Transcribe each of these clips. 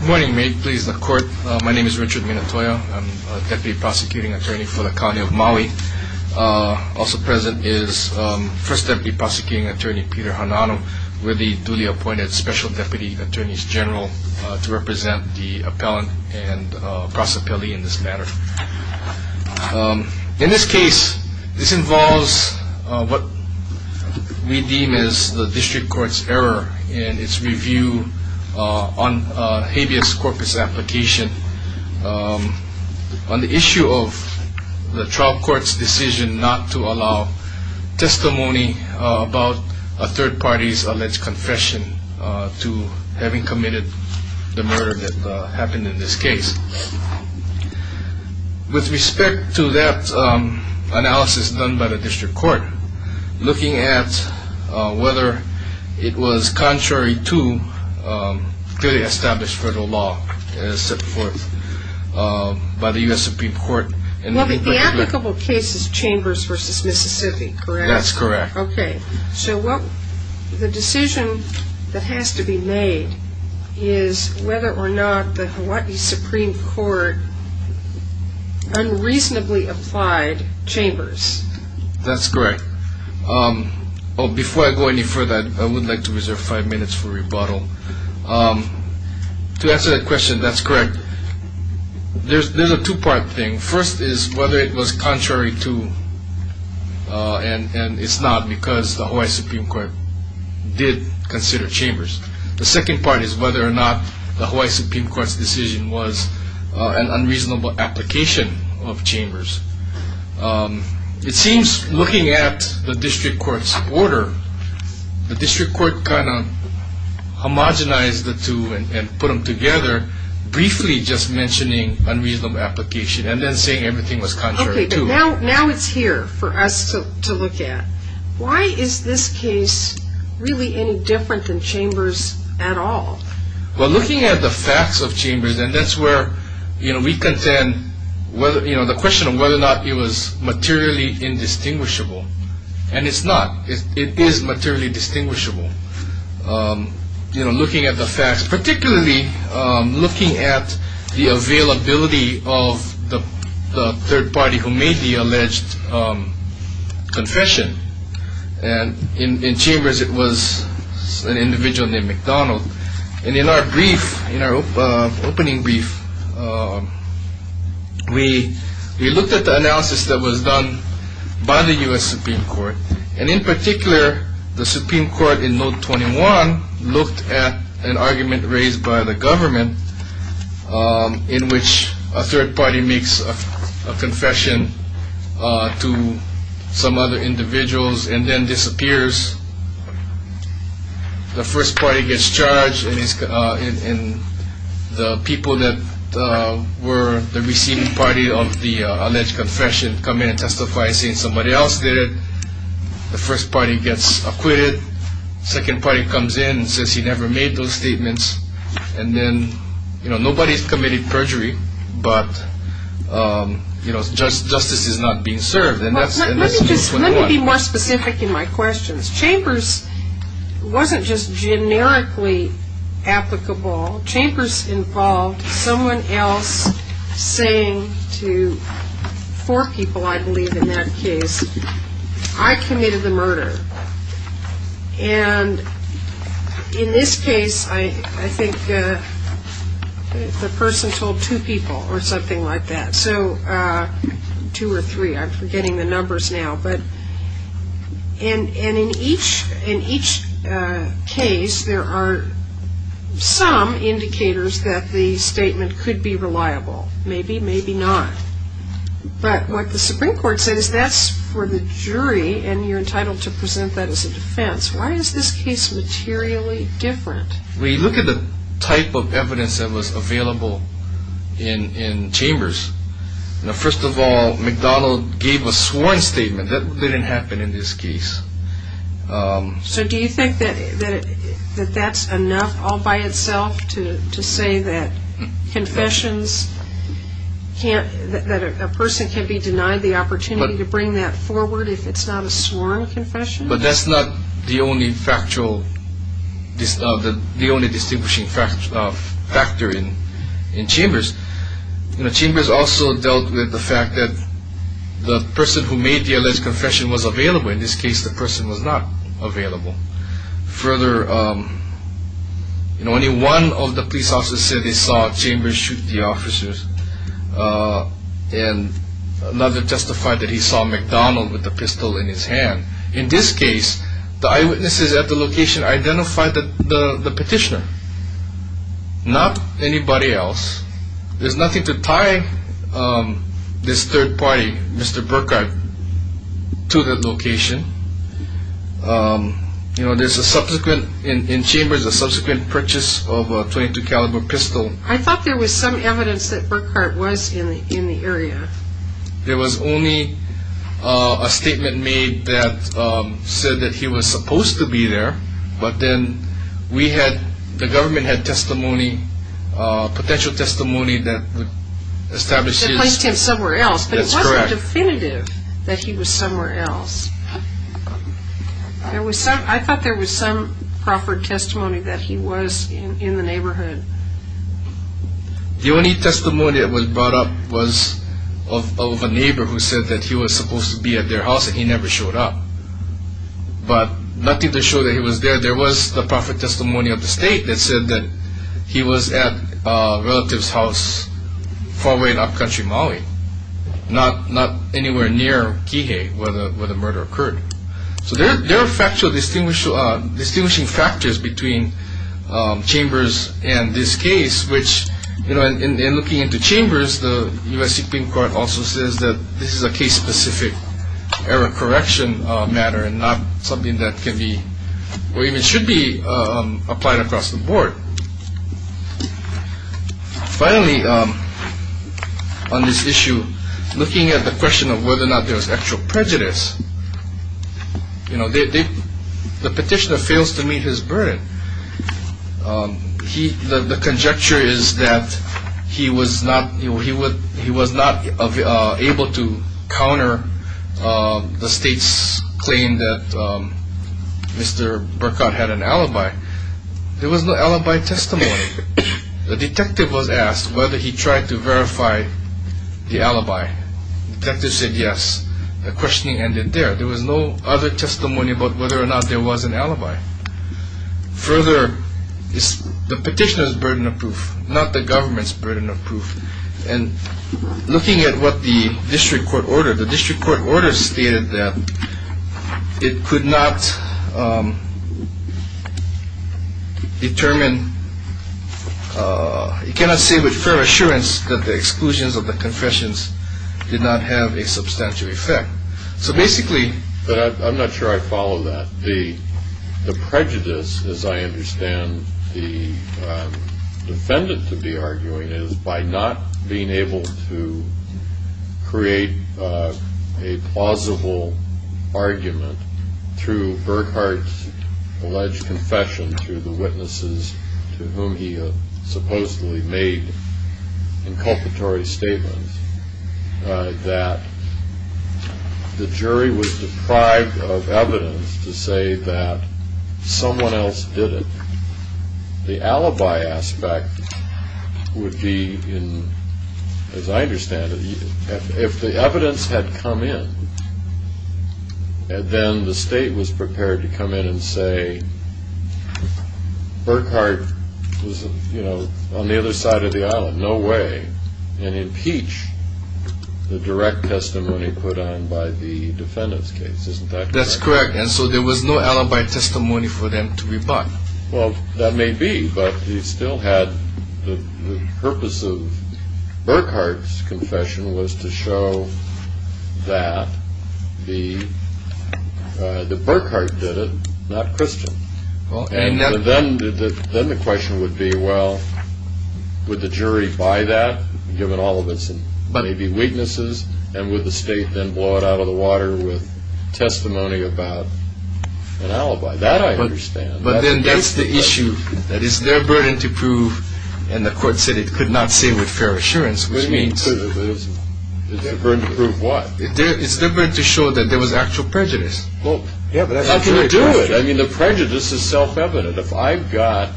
Good morning, may it please the court. My name is Richard Minatoya. I'm a Deputy Prosecuting Attorney for the County of Maui. Also present is First Deputy Prosecuting Attorney Peter Hanano, with the duly appointed Special Deputy Attorneys General to represent the appellant and process appellee in this matter. In this case, this involves what we deem as the District Court's error in its review on habeas corpus application on the issue of the trial court's decision not to allow testimony about a third party's alleged confession to having committed the murder that happened in this case. With respect to that analysis done by the District Court, looking at whether it was contrary to clearly established federal law as set forth by the U.S. Supreme Court. Well, the applicable case is Chambers v. Mississippi, correct? That's correct. Okay, so the decision that has to be made is whether or not the Hawaii Supreme Court unreasonably applied Chambers. That's correct. Before I go any further, I would like to reserve five minutes for rebuttal. To answer that question, that's correct. There's a two-part thing. First is whether it was contrary to, and it's not because the Hawaii Supreme Court did consider Chambers. The second part is whether or not the Hawaii Supreme Court's decision was an unreasonable application of Chambers. It seems looking at the District Court's order, the District Court kind of homogenized the two and put them together, briefly just mentioning unreasonable application and then saying everything was contrary to. Okay, but now it's here for us to look at. Why is this case really any different than Chambers at all? Well, looking at the facts of Chambers, and that's where we contend the question of whether or not it was materially indistinguishable. And it's not. It is materially distinguishable. Looking at the facts, particularly looking at the availability of the third party who made the alleged confession. And in Chambers, it was an individual named McDonald. And in our brief, in our opening brief, we looked at the analysis that was done by the U.S. Supreme Court. And in particular, the Supreme Court in Note 21 looked at an argument raised by the government in which a third party makes a confession to some other individuals and then disappears. The first party gets charged and the people that were the receiving party of the alleged confession come in and testify saying somebody else did it. The first party gets acquitted. Second party comes in and says he never made those statements. And then, you know, nobody's committed perjury, but, you know, justice is not being served. Let me be more specific in my questions. Chambers wasn't just generically applicable. Chambers involved someone else saying to four people, I believe, in that case, I committed the murder. And in this case, I think the person told two people or something like that. So two or three, I'm forgetting the numbers now. And in each case, there are some indicators that the statement could be reliable. Maybe, maybe not. But what the Supreme Court says, that's for the jury and you're entitled to present that as a defense. Why is this case materially different? We look at the type of evidence that was available in Chambers. First of all, McDonald gave a sworn statement. That didn't happen in this case. So do you think that that's enough all by itself to say that confessions can't, that a person can be denied the opportunity to bring that forward if it's not a sworn confession? But that's not the only factual, the only distinguishing factor in Chambers. Chambers also dealt with the fact that the person who made the alleged confession was available. In this case, the person was not available. Further, only one of the police officers said he saw Chambers shoot the officers. And another testified that he saw McDonald with a pistol in his hand. In this case, the eyewitnesses at the location identified the petitioner. Not anybody else. There's nothing to tie this third party, Mr. Burkhart, to the location. You know, there's a subsequent, in Chambers, a subsequent purchase of a .22 caliber pistol. I thought there was some evidence that Burkhart was in the area. There was only a statement made that said that he was supposed to be there. But then we had, the government had testimony, potential testimony that would establish this. That placed him somewhere else. That's correct. But it wasn't definitive that he was somewhere else. I thought there was some proffered testimony that he was in the neighborhood. The only testimony that was brought up was of a neighbor who said that he was supposed to be at their house, and he never showed up. But nothing to show that he was there. There was the proffered testimony of the state that said that he was at a relative's house far away in upcountry Maui. Not anywhere near Kihei where the murder occurred. So there are factually distinguishing factors between Chambers and this case, which, you know, in looking into Chambers, the U.S. Supreme Court also says that this is a case-specific error correction matter and not something that can be or even should be applied across the board. Finally, on this issue, looking at the question of whether or not there was actual prejudice, you know, the petitioner fails to meet his burden. The conjecture is that he was not able to counter the state's claim that Mr. Burkhardt had an alibi. There was no alibi testimony. The detective was asked whether he tried to verify the alibi. The detective said yes. The questioning ended there. There was no other testimony about whether or not there was an alibi. Further, the petitioner's burden of proof, not the government's burden of proof. And looking at what the district court ordered, the district court order stated that it could not determine, it cannot say with fair assurance that the exclusions of the confessions did not have a substantial effect. So basically. But I'm not sure I follow that. The prejudice, as I understand the defendant to be arguing, is by not being able to create a plausible argument through Burkhardt's alleged confession to the witnesses to whom he supposedly made inculpatory statements, that the jury was deprived of evidence to say that someone else did it. The alibi aspect would be, as I understand it, if the evidence had come in, and then the state was prepared to come in and say, Burkhardt was on the other side of the island, no way, and impeach the direct testimony put on by the defendant's case. Isn't that correct? That's correct. And so there was no alibi testimony for them to rebut. Well, that may be. But he still had the purpose of Burkhardt's confession was to show that the Burkhardt did it, not Christian. And then the question would be, well, would the jury buy that, given all of its weaknesses, and would the state then blow it out of the water with testimony about an alibi? That I understand. But then that's the issue, that it's their burden to prove, and the court said it could not say with fair assurance, which means. It's their burden to prove what? It's their burden to show that there was actual prejudice. Well, how can they do it? I mean, the prejudice is self-evident. If I've got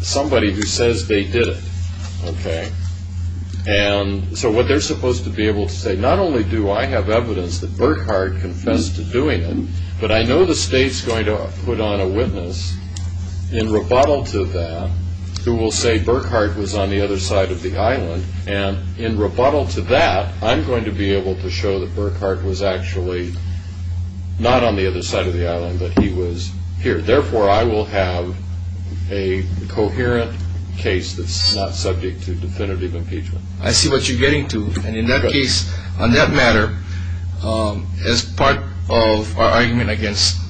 somebody who says they did it, okay, and so what they're supposed to be able to say, not only do I have evidence that Burkhardt confessed to doing it, but I know the state's going to put on a witness in rebuttal to that who will say Burkhardt was on the other side of the island, and in rebuttal to that, I'm going to be able to show that Burkhardt was actually not on the other side of the island, but he was here. Therefore, I will have a coherent case that's not subject to definitive impeachment. I see what you're getting to. And in that case, on that matter, as part of our argument against,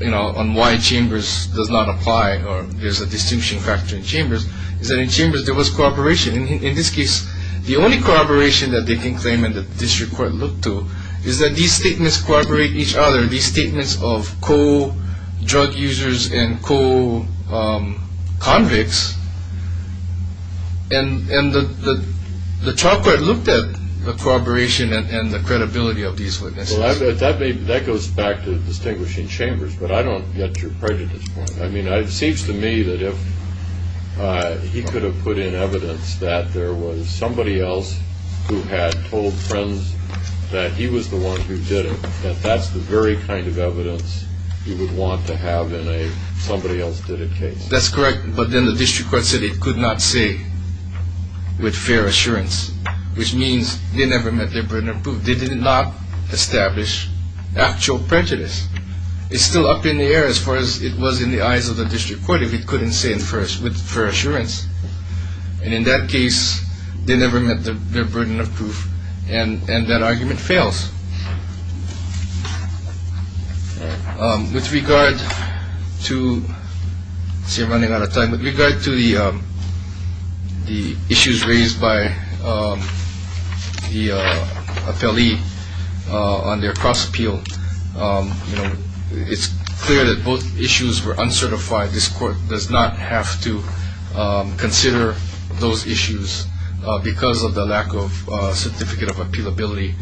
you know, on why Chambers does not apply, or there's a distinction factor in Chambers, is that in Chambers there was cooperation. In this case, the only cooperation that they can claim and that the district court looked to is that these statements cooperate with each other, these statements of co-drug users and co-convicts, and the trial court looked at the cooperation and the credibility of these witnesses. Well, that goes back to distinguishing Chambers, but I don't get your prejudice point. I mean, it seems to me that if he could have put in evidence that there was somebody else who had told friends that he was the one who did it, that that's the very kind of evidence you would want to have in a somebody-else-did-it case. That's correct, but then the district court said it could not say with fair assurance, which means they never met their burden of proof. They did not establish actual prejudice. It's still up in the air as far as it was in the eyes of the district court if it couldn't say it with fair assurance. And in that case, they never met their burden of proof, and that argument fails. With regard to the issues raised by the appellee on their cross-appeal, it's clear that both issues were uncertified. This court does not have to consider those issues because of the lack of certificate of appealability,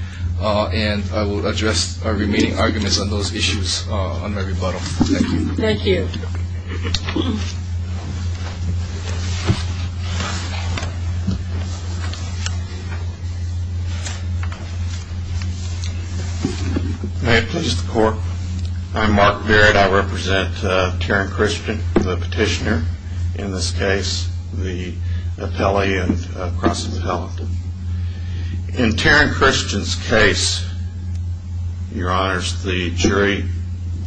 and I will address our remaining arguments on those issues on my rebuttal. Thank you. Thank you. Thank you. May it please the court, I'm Mark Barrett. I represent Tarrant Christian, the petitioner, in this case the appellee of cross-appellate. In Tarrant Christian's case, your honors, the jury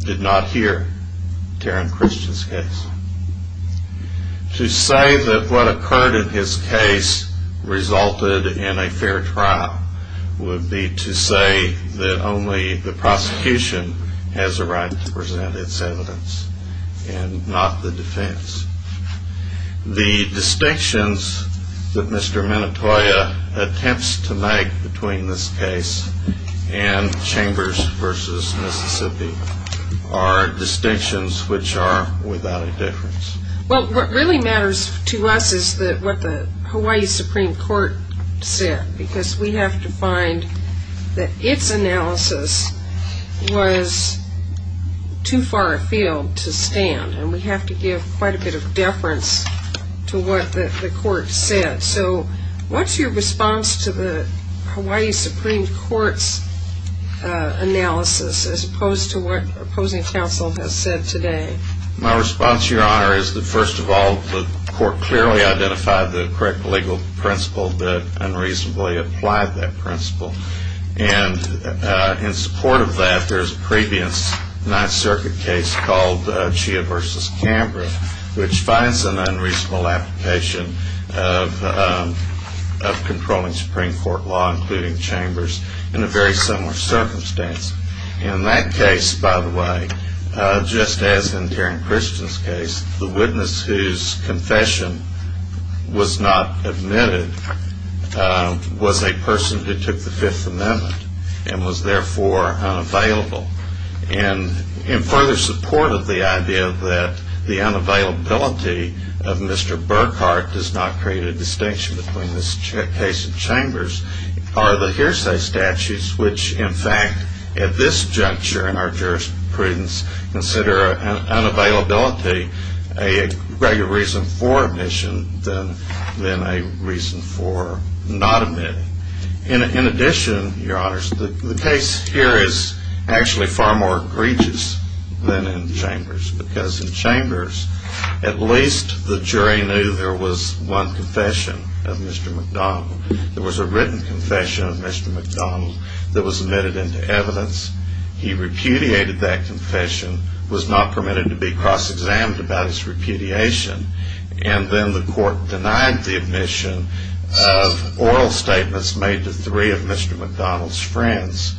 did not hear Tarrant Christian's case. To say that what occurred in his case resulted in a fair trial would be to say that only the prosecution has a right to present its evidence and not the defense. The distinctions that Mr. Minatoya attempts to make between this case and Chambers v. Mississippi are distinctions which are without a difference. Well, what really matters to us is what the Hawaii Supreme Court said, because we have to find that its analysis was too far afield to stand, and we have to give quite a bit of deference to what the court said. So what's your response to the Hawaii Supreme Court's analysis as opposed to what opposing counsel has said today? My response, your honor, is that, first of all, the court clearly identified the correct legal principle that unreasonably applied that principle. And in support of that, there's a previous Ninth Circuit case called Chia v. Canberra, which finds an unreasonable application of controlling Supreme Court law, including Chambers, in a very similar circumstance. And in that case, by the way, just as in Karen Christian's case, the witness whose confession was not admitted was a person who took the Fifth Amendment and was therefore unavailable. And in further support of the idea that the unavailability of Mr. Burkhart does not create a distinction between this case and Chambers are the hearsay statutes, which, in fact, at this juncture in our jurisprudence, consider unavailability a greater reason for admission than a reason for not admitting. In addition, your honors, the case here is actually far more egregious than in Chambers, because in Chambers, at least the jury knew there was one confession of Mr. McDonald. There was a written confession of Mr. McDonald that was admitted into evidence. He repudiated that confession, was not permitted to be cross-examined about his repudiation, and then the court denied the admission of oral statements made to three of Mr. McDonald's friends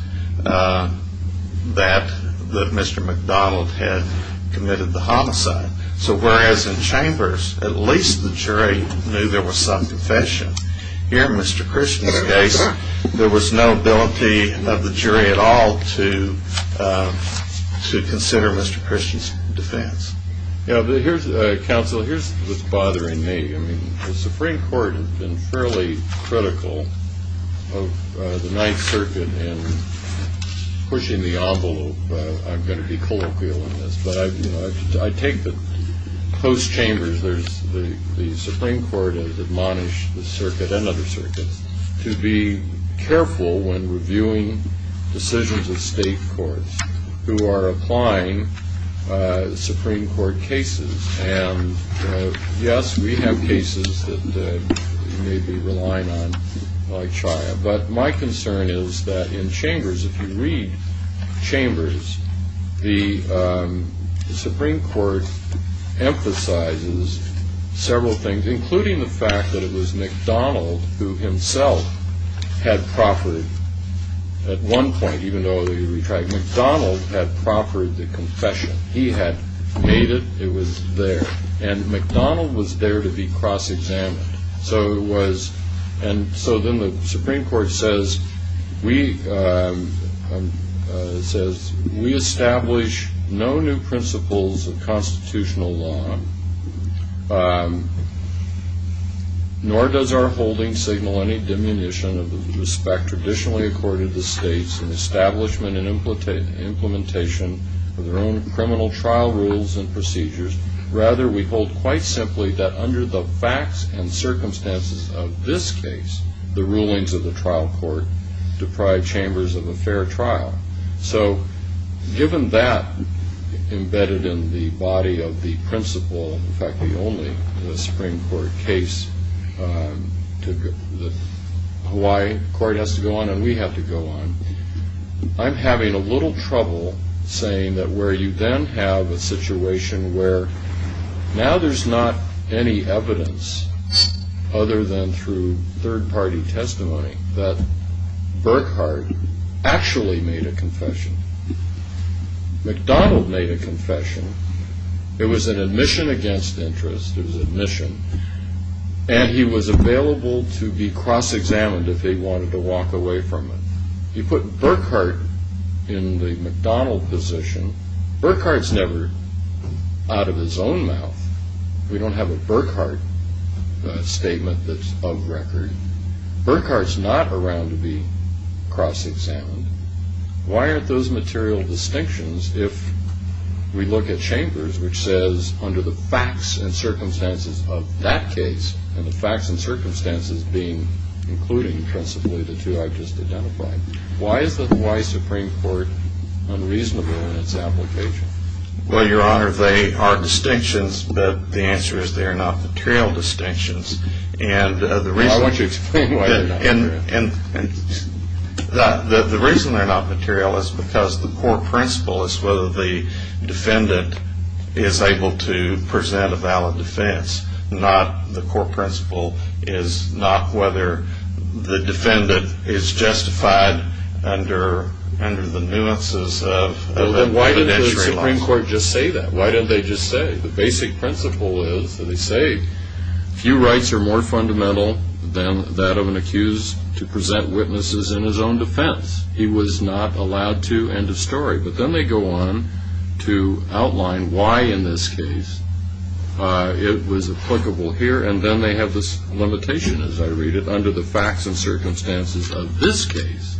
that Mr. McDonald had committed the homicide. So whereas in Chambers, at least the jury knew there was some confession, here in Mr. Christian's case, there was no ability of the jury at all to consider Mr. Christian's defense. Counsel, here's what's bothering me. The Supreme Court has been fairly critical of the Ninth Circuit in pushing the envelope, I'm going to be colloquial in this, but I take the post-Chambers, the Supreme Court has admonished the circuit and other circuits to be careful when reviewing decisions of state courts who are applying Supreme Court cases. And, yes, we have cases that you may be relying on, like Chaya, but my concern is that in Chambers, if you read Chambers, the Supreme Court emphasizes several things, including the fact that it was McDonald who himself had proffered, at one point, even though he retried, McDonald had proffered the confession. He had made it, it was there, and McDonald was there to be cross-examined. So it was, and so then the Supreme Court says, we establish no new principles of constitutional law, nor does our holding signal any diminution of the respect traditionally accorded to states in establishment and implementation of their own criminal trial rules and procedures. Rather, we hold quite simply that under the facts and circumstances of this case, the rulings of the trial court deprive Chambers of a fair trial. So given that, embedded in the body of the principle, in fact, the only Supreme Court case, the Hawaii court has to go on and we have to go on, I'm having a little trouble saying that where you then have a situation where now there's not any evidence other than through third-party testimony that Burkhardt actually made a confession. McDonald made a confession. It was an admission against interest, it was admission, and he was available to be cross-examined if he wanted to walk away from it. He put Burkhardt in the McDonald position. Burkhardt's never out of his own mouth. We don't have a Burkhardt statement that's of record. Burkhardt's not around to be cross-examined. Why aren't those material distinctions if we look at Chambers, which says under the facts and circumstances of that case, and the facts and circumstances being including principally the two I've just identified, why is the Hawaii Supreme Court unreasonable in its application? Well, Your Honor, they are distinctions, but the answer is they are not material distinctions. And the reason they're not material is because the core principle is whether the defendant is able to present a valid defense. The core principle is not whether the defendant is justified under the nuances of evidentiary laws. Then why didn't the Supreme Court just say that? Why didn't they just say? The basic principle is that they say, few rights are more fundamental than that of an accused to present witnesses in his own defense. He was not allowed to end a story. But then they go on to outline why in this case it was applicable here, and then they have this limitation, as I read it, under the facts and circumstances of this case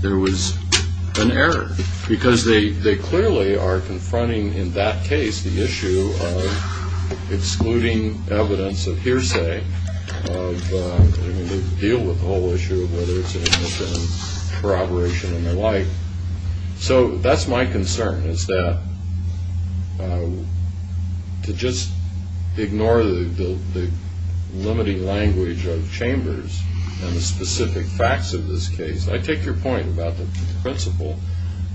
there was an error. Because they clearly are confronting in that case the issue of excluding evidence of hearsay, of dealing with the whole issue of whether it's an innocent corroboration and the like. So that's my concern, is that to just ignore the limiting language of Chambers and the specific facts of this case. I take your point about the principle,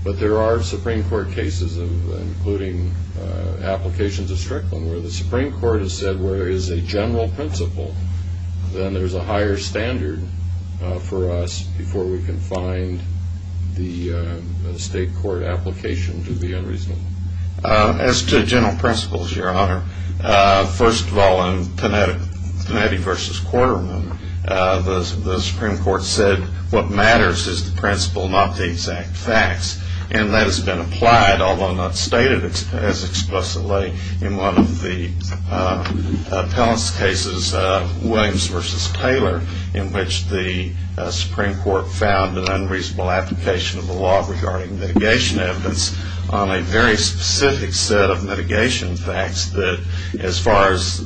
but there are Supreme Court cases, including applications of Strickland, where the Supreme Court has said where there is a general principle, then there's a higher standard for us before we can find the state court application to be unreasonable. As to general principles, Your Honor, first of all, in Panetti v. Quarterman, the Supreme Court said what matters is the principle, not the exact facts. And that has been applied, although not stated as expressively, in one of the appellant's cases, Williams v. Taylor, in which the Supreme Court found an unreasonable application of the law regarding mitigation evidence on a very specific set of mitigation facts that, as far as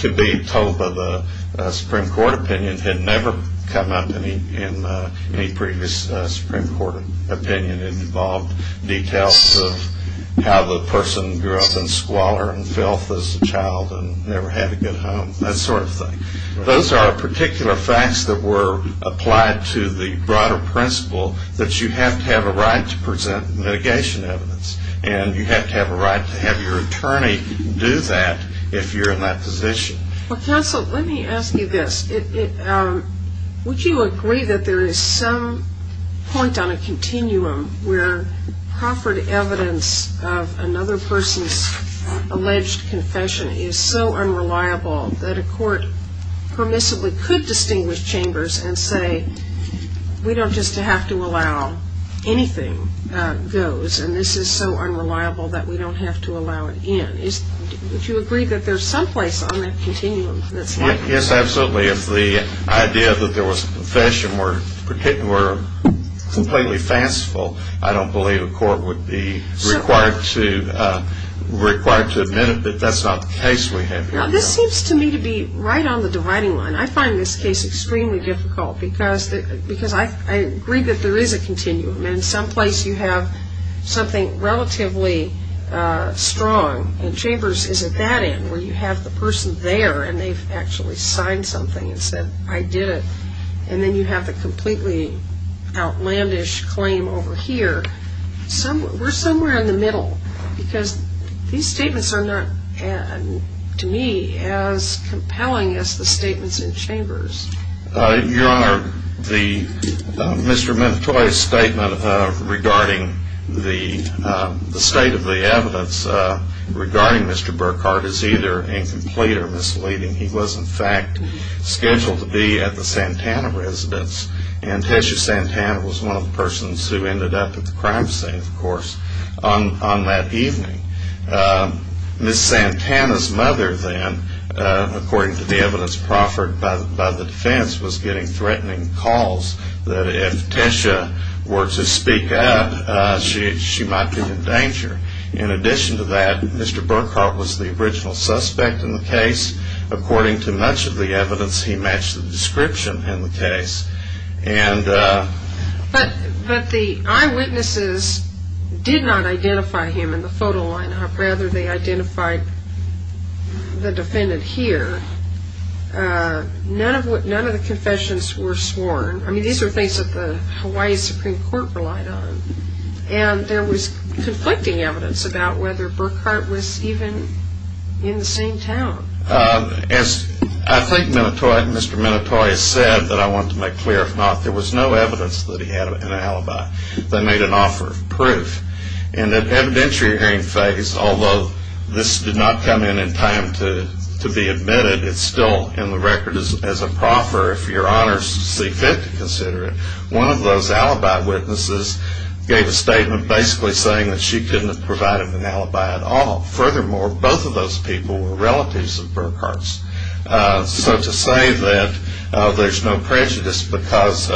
could be told by the Supreme Court opinion, had never come up in any previous Supreme Court opinion. It involved details of how the person grew up in squalor and filth as a child and never had a good home, that sort of thing. Those are particular facts that were applied to the broader principle that you have to have a right to present mitigation evidence, and you have to have a right to have your attorney do that if you're in that position. Well, counsel, let me ask you this. Would you agree that there is some point on a continuum where proffered evidence of another person's alleged confession is so unreliable that a court permissibly could distinguish chambers and say, we don't just have to allow anything goes, and this is so unreliable that we don't have to allow it in? Would you agree that there's some place on that continuum that's like that? Yes, absolutely. If the idea that there was confession were completely fanciful, I don't believe a court would be required to admit that that's not the case we have here. Now, this seems to me to be right on the dividing line. I find this case extremely difficult because I agree that there is a continuum, and in some place you have something relatively strong, and chambers is at that end where you have the person there, and they've actually signed something and said, I did it, and then you have the completely outlandish claim over here. We're somewhere in the middle because these statements are not, to me, as compelling as the statements in chambers. Your Honor, Mr. Mentoy's statement regarding the state of the evidence regarding Mr. Burkhardt is either incomplete or misleading. He was, in fact, scheduled to be at the Santana residence, and Tessia Santana was one of the persons who ended up at the crime scene, of course, on that evening. Ms. Santana's mother, then, according to the evidence proffered by the defense, was getting threatening calls that if Tessia were to speak up, she might be in danger. In addition to that, Mr. Burkhardt was the original suspect in the case. According to much of the evidence, he matched the description in the case. But the eyewitnesses did not identify him in the photo line-up. Rather, they identified the defendant here. None of the confessions were sworn. I mean, these are things that the Hawaii Supreme Court relied on, and there was conflicting evidence about whether Burkhardt was even in the same town. As I think Mr. Minotoi has said, that I want to make clear, if not, there was no evidence that he had an alibi. They made an offer of proof. In the evidentiary hearing phase, although this did not come in in time to be admitted, it's still in the record as a proffer, if your honors see fit to consider it, one of those alibi witnesses gave a statement basically saying that she couldn't have provided an alibi at all. Furthermore, both of those people were relatives of Burkhardt's. So to say that there's no prejudice because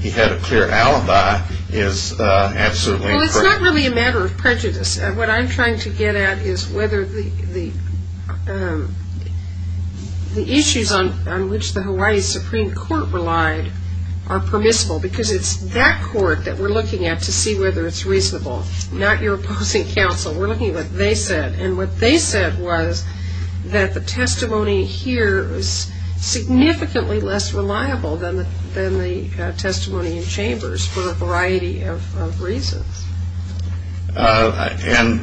he had a clear alibi is absolutely incorrect. Well, it's not really a matter of prejudice. What I'm trying to get at is whether the issues on which the Hawaii Supreme Court relied are permissible because it's that court that we're looking at to see whether it's reasonable, not your opposing counsel. We're looking at what they said. And what they said was that the testimony here is significantly less reliable than the testimony in chambers for a variety of reasons. And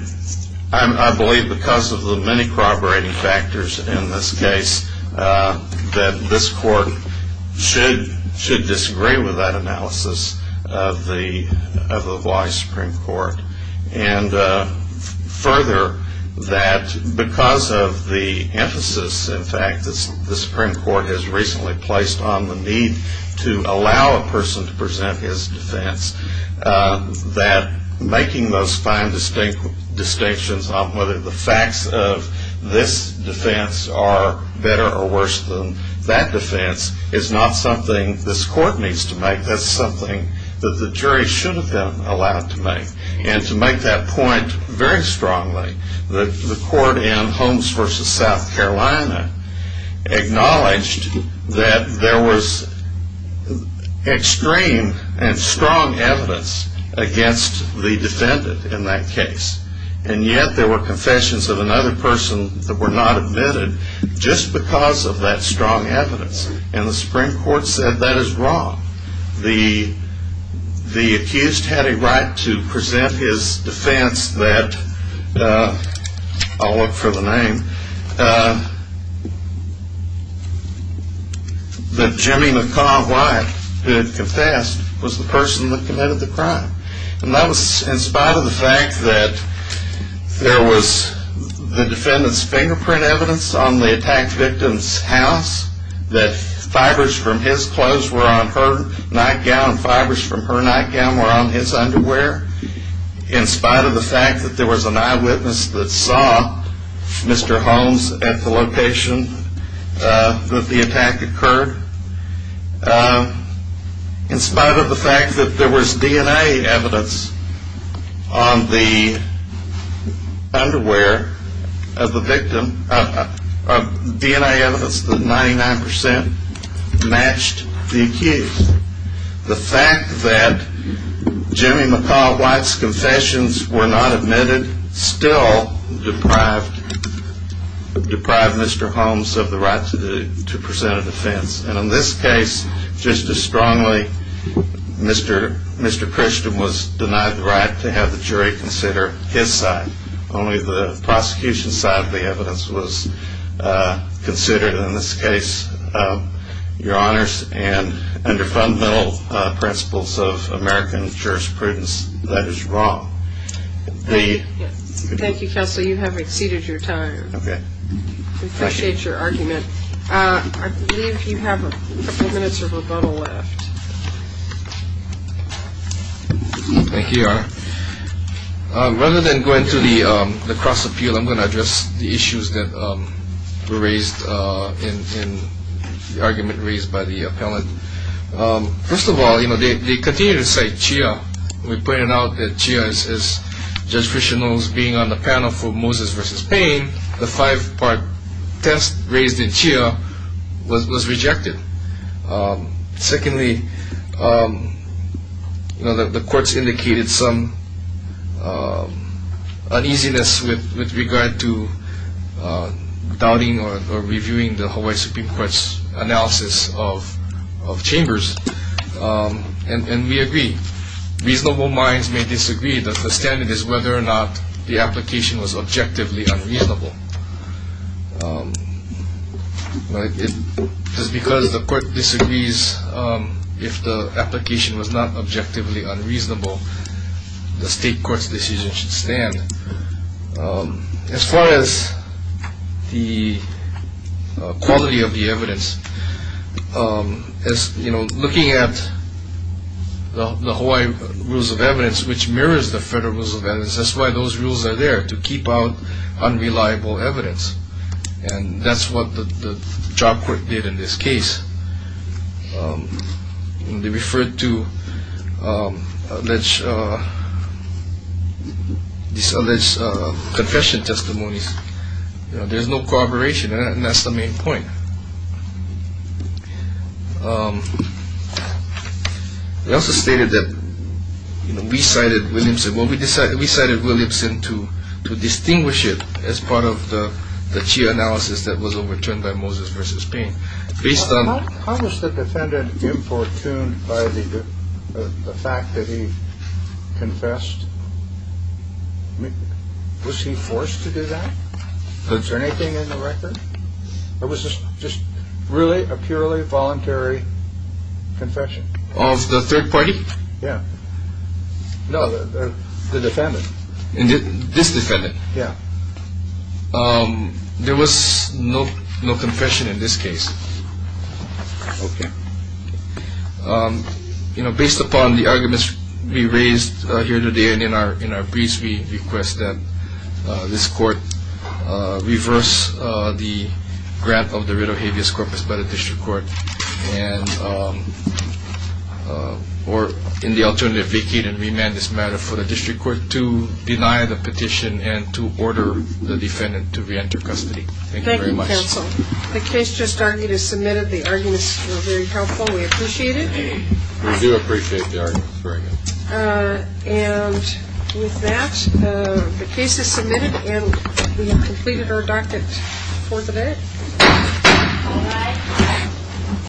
I believe because of the many corroborating factors in this case, that this court should disagree with that analysis of the Hawaii Supreme Court. And further, that because of the emphasis, in fact, the Supreme Court has recently placed on the need to allow a person to present his defense, that making those fine distinctions on whether the facts of this defense are better or worse than that defense is not something this court needs to make. That's something that the jury should have been allowed to make. And to make that point very strongly, the court in Holmes v. South Carolina acknowledged that there was extreme and strong evidence against the defendant in that case. And yet there were confessions of another person that were not admitted just because of that strong evidence. And the Supreme Court said that is wrong. The accused had a right to present his defense that, I'll look for the name, that Jimmy McCaw White, who had confessed, was the person that committed the crime. And that was in spite of the fact that there was the defendant's fingerprint evidence on the attack victim's house that fibers from his clothes were on her nightgown and fibers from her nightgown were on his underwear. In spite of the fact that there was an eyewitness that saw Mr. Holmes at the location that the attack occurred. In spite of the fact that there was DNA evidence on the underwear of the victim, DNA evidence that 99% matched the accused, the fact that Jimmy McCaw White's confessions were not admitted still deprived Mr. Holmes of the right to present a defense. And in this case, just as strongly, Mr. Christian was denied the right to have the jury consider his side. Only the prosecution side of the evidence was considered. In this case, Your Honors, and under fundamental principles of American jurisprudence, that is wrong. Thank you, Counselor. You have exceeded your time. Okay. I appreciate your argument. I believe you have a few minutes of rebuttal left. Thank you, Your Honor. Rather than go into the cross-appeal, I'm going to address the issues that were raised in the argument raised by the appellant. First of all, they continue to cite Chia. We pointed out that Chia, as Judge Christian knows, being on the panel for Moses v. Payne, the five-part test raised in Chia was rejected. Secondly, the courts indicated some uneasiness with regard to doubting or reviewing the Hawaii Supreme Court's analysis of Chambers, and we agree. Reasonable minds may disagree. The standard is whether or not the application was objectively unreasonable. Just because the court disagrees if the application was not objectively unreasonable, the state court's decision should stand. As far as the quality of the evidence, looking at the Hawaii Rules of Evidence, which mirrors the Federal Rules of Evidence, that's why those rules are there, to keep out unreliable evidence, and that's what the trial court did in this case. They referred to these alleged confession testimonies. There's no corroboration, and that's the main point. They also stated that we cited Williamson. Well, we cited Williamson to distinguish it as part of the Chia analysis that was overturned by Moses v. Payne. How was the defendant importuned by the fact that he confessed? Was he forced to do that? Was there anything in the record? It was just really a purely voluntary confession. Of the third party? Yeah. No, the defendant. This defendant? Yeah. There was no confession in this case. Okay. Based upon the arguments we raised here today and in our briefs, we request that this court reverse the grant of the writ of habeas corpus by the district court, or in the alternative, vacate and remand this matter for the district court to deny the petition and to order the defendant to reenter custody. Thank you very much. Thank you, counsel. The case just argued is submitted. The arguments were very helpful. We appreciate it. We do appreciate the arguments very much. And with that, the case is submitted, and we've completed our docket for today. All rise.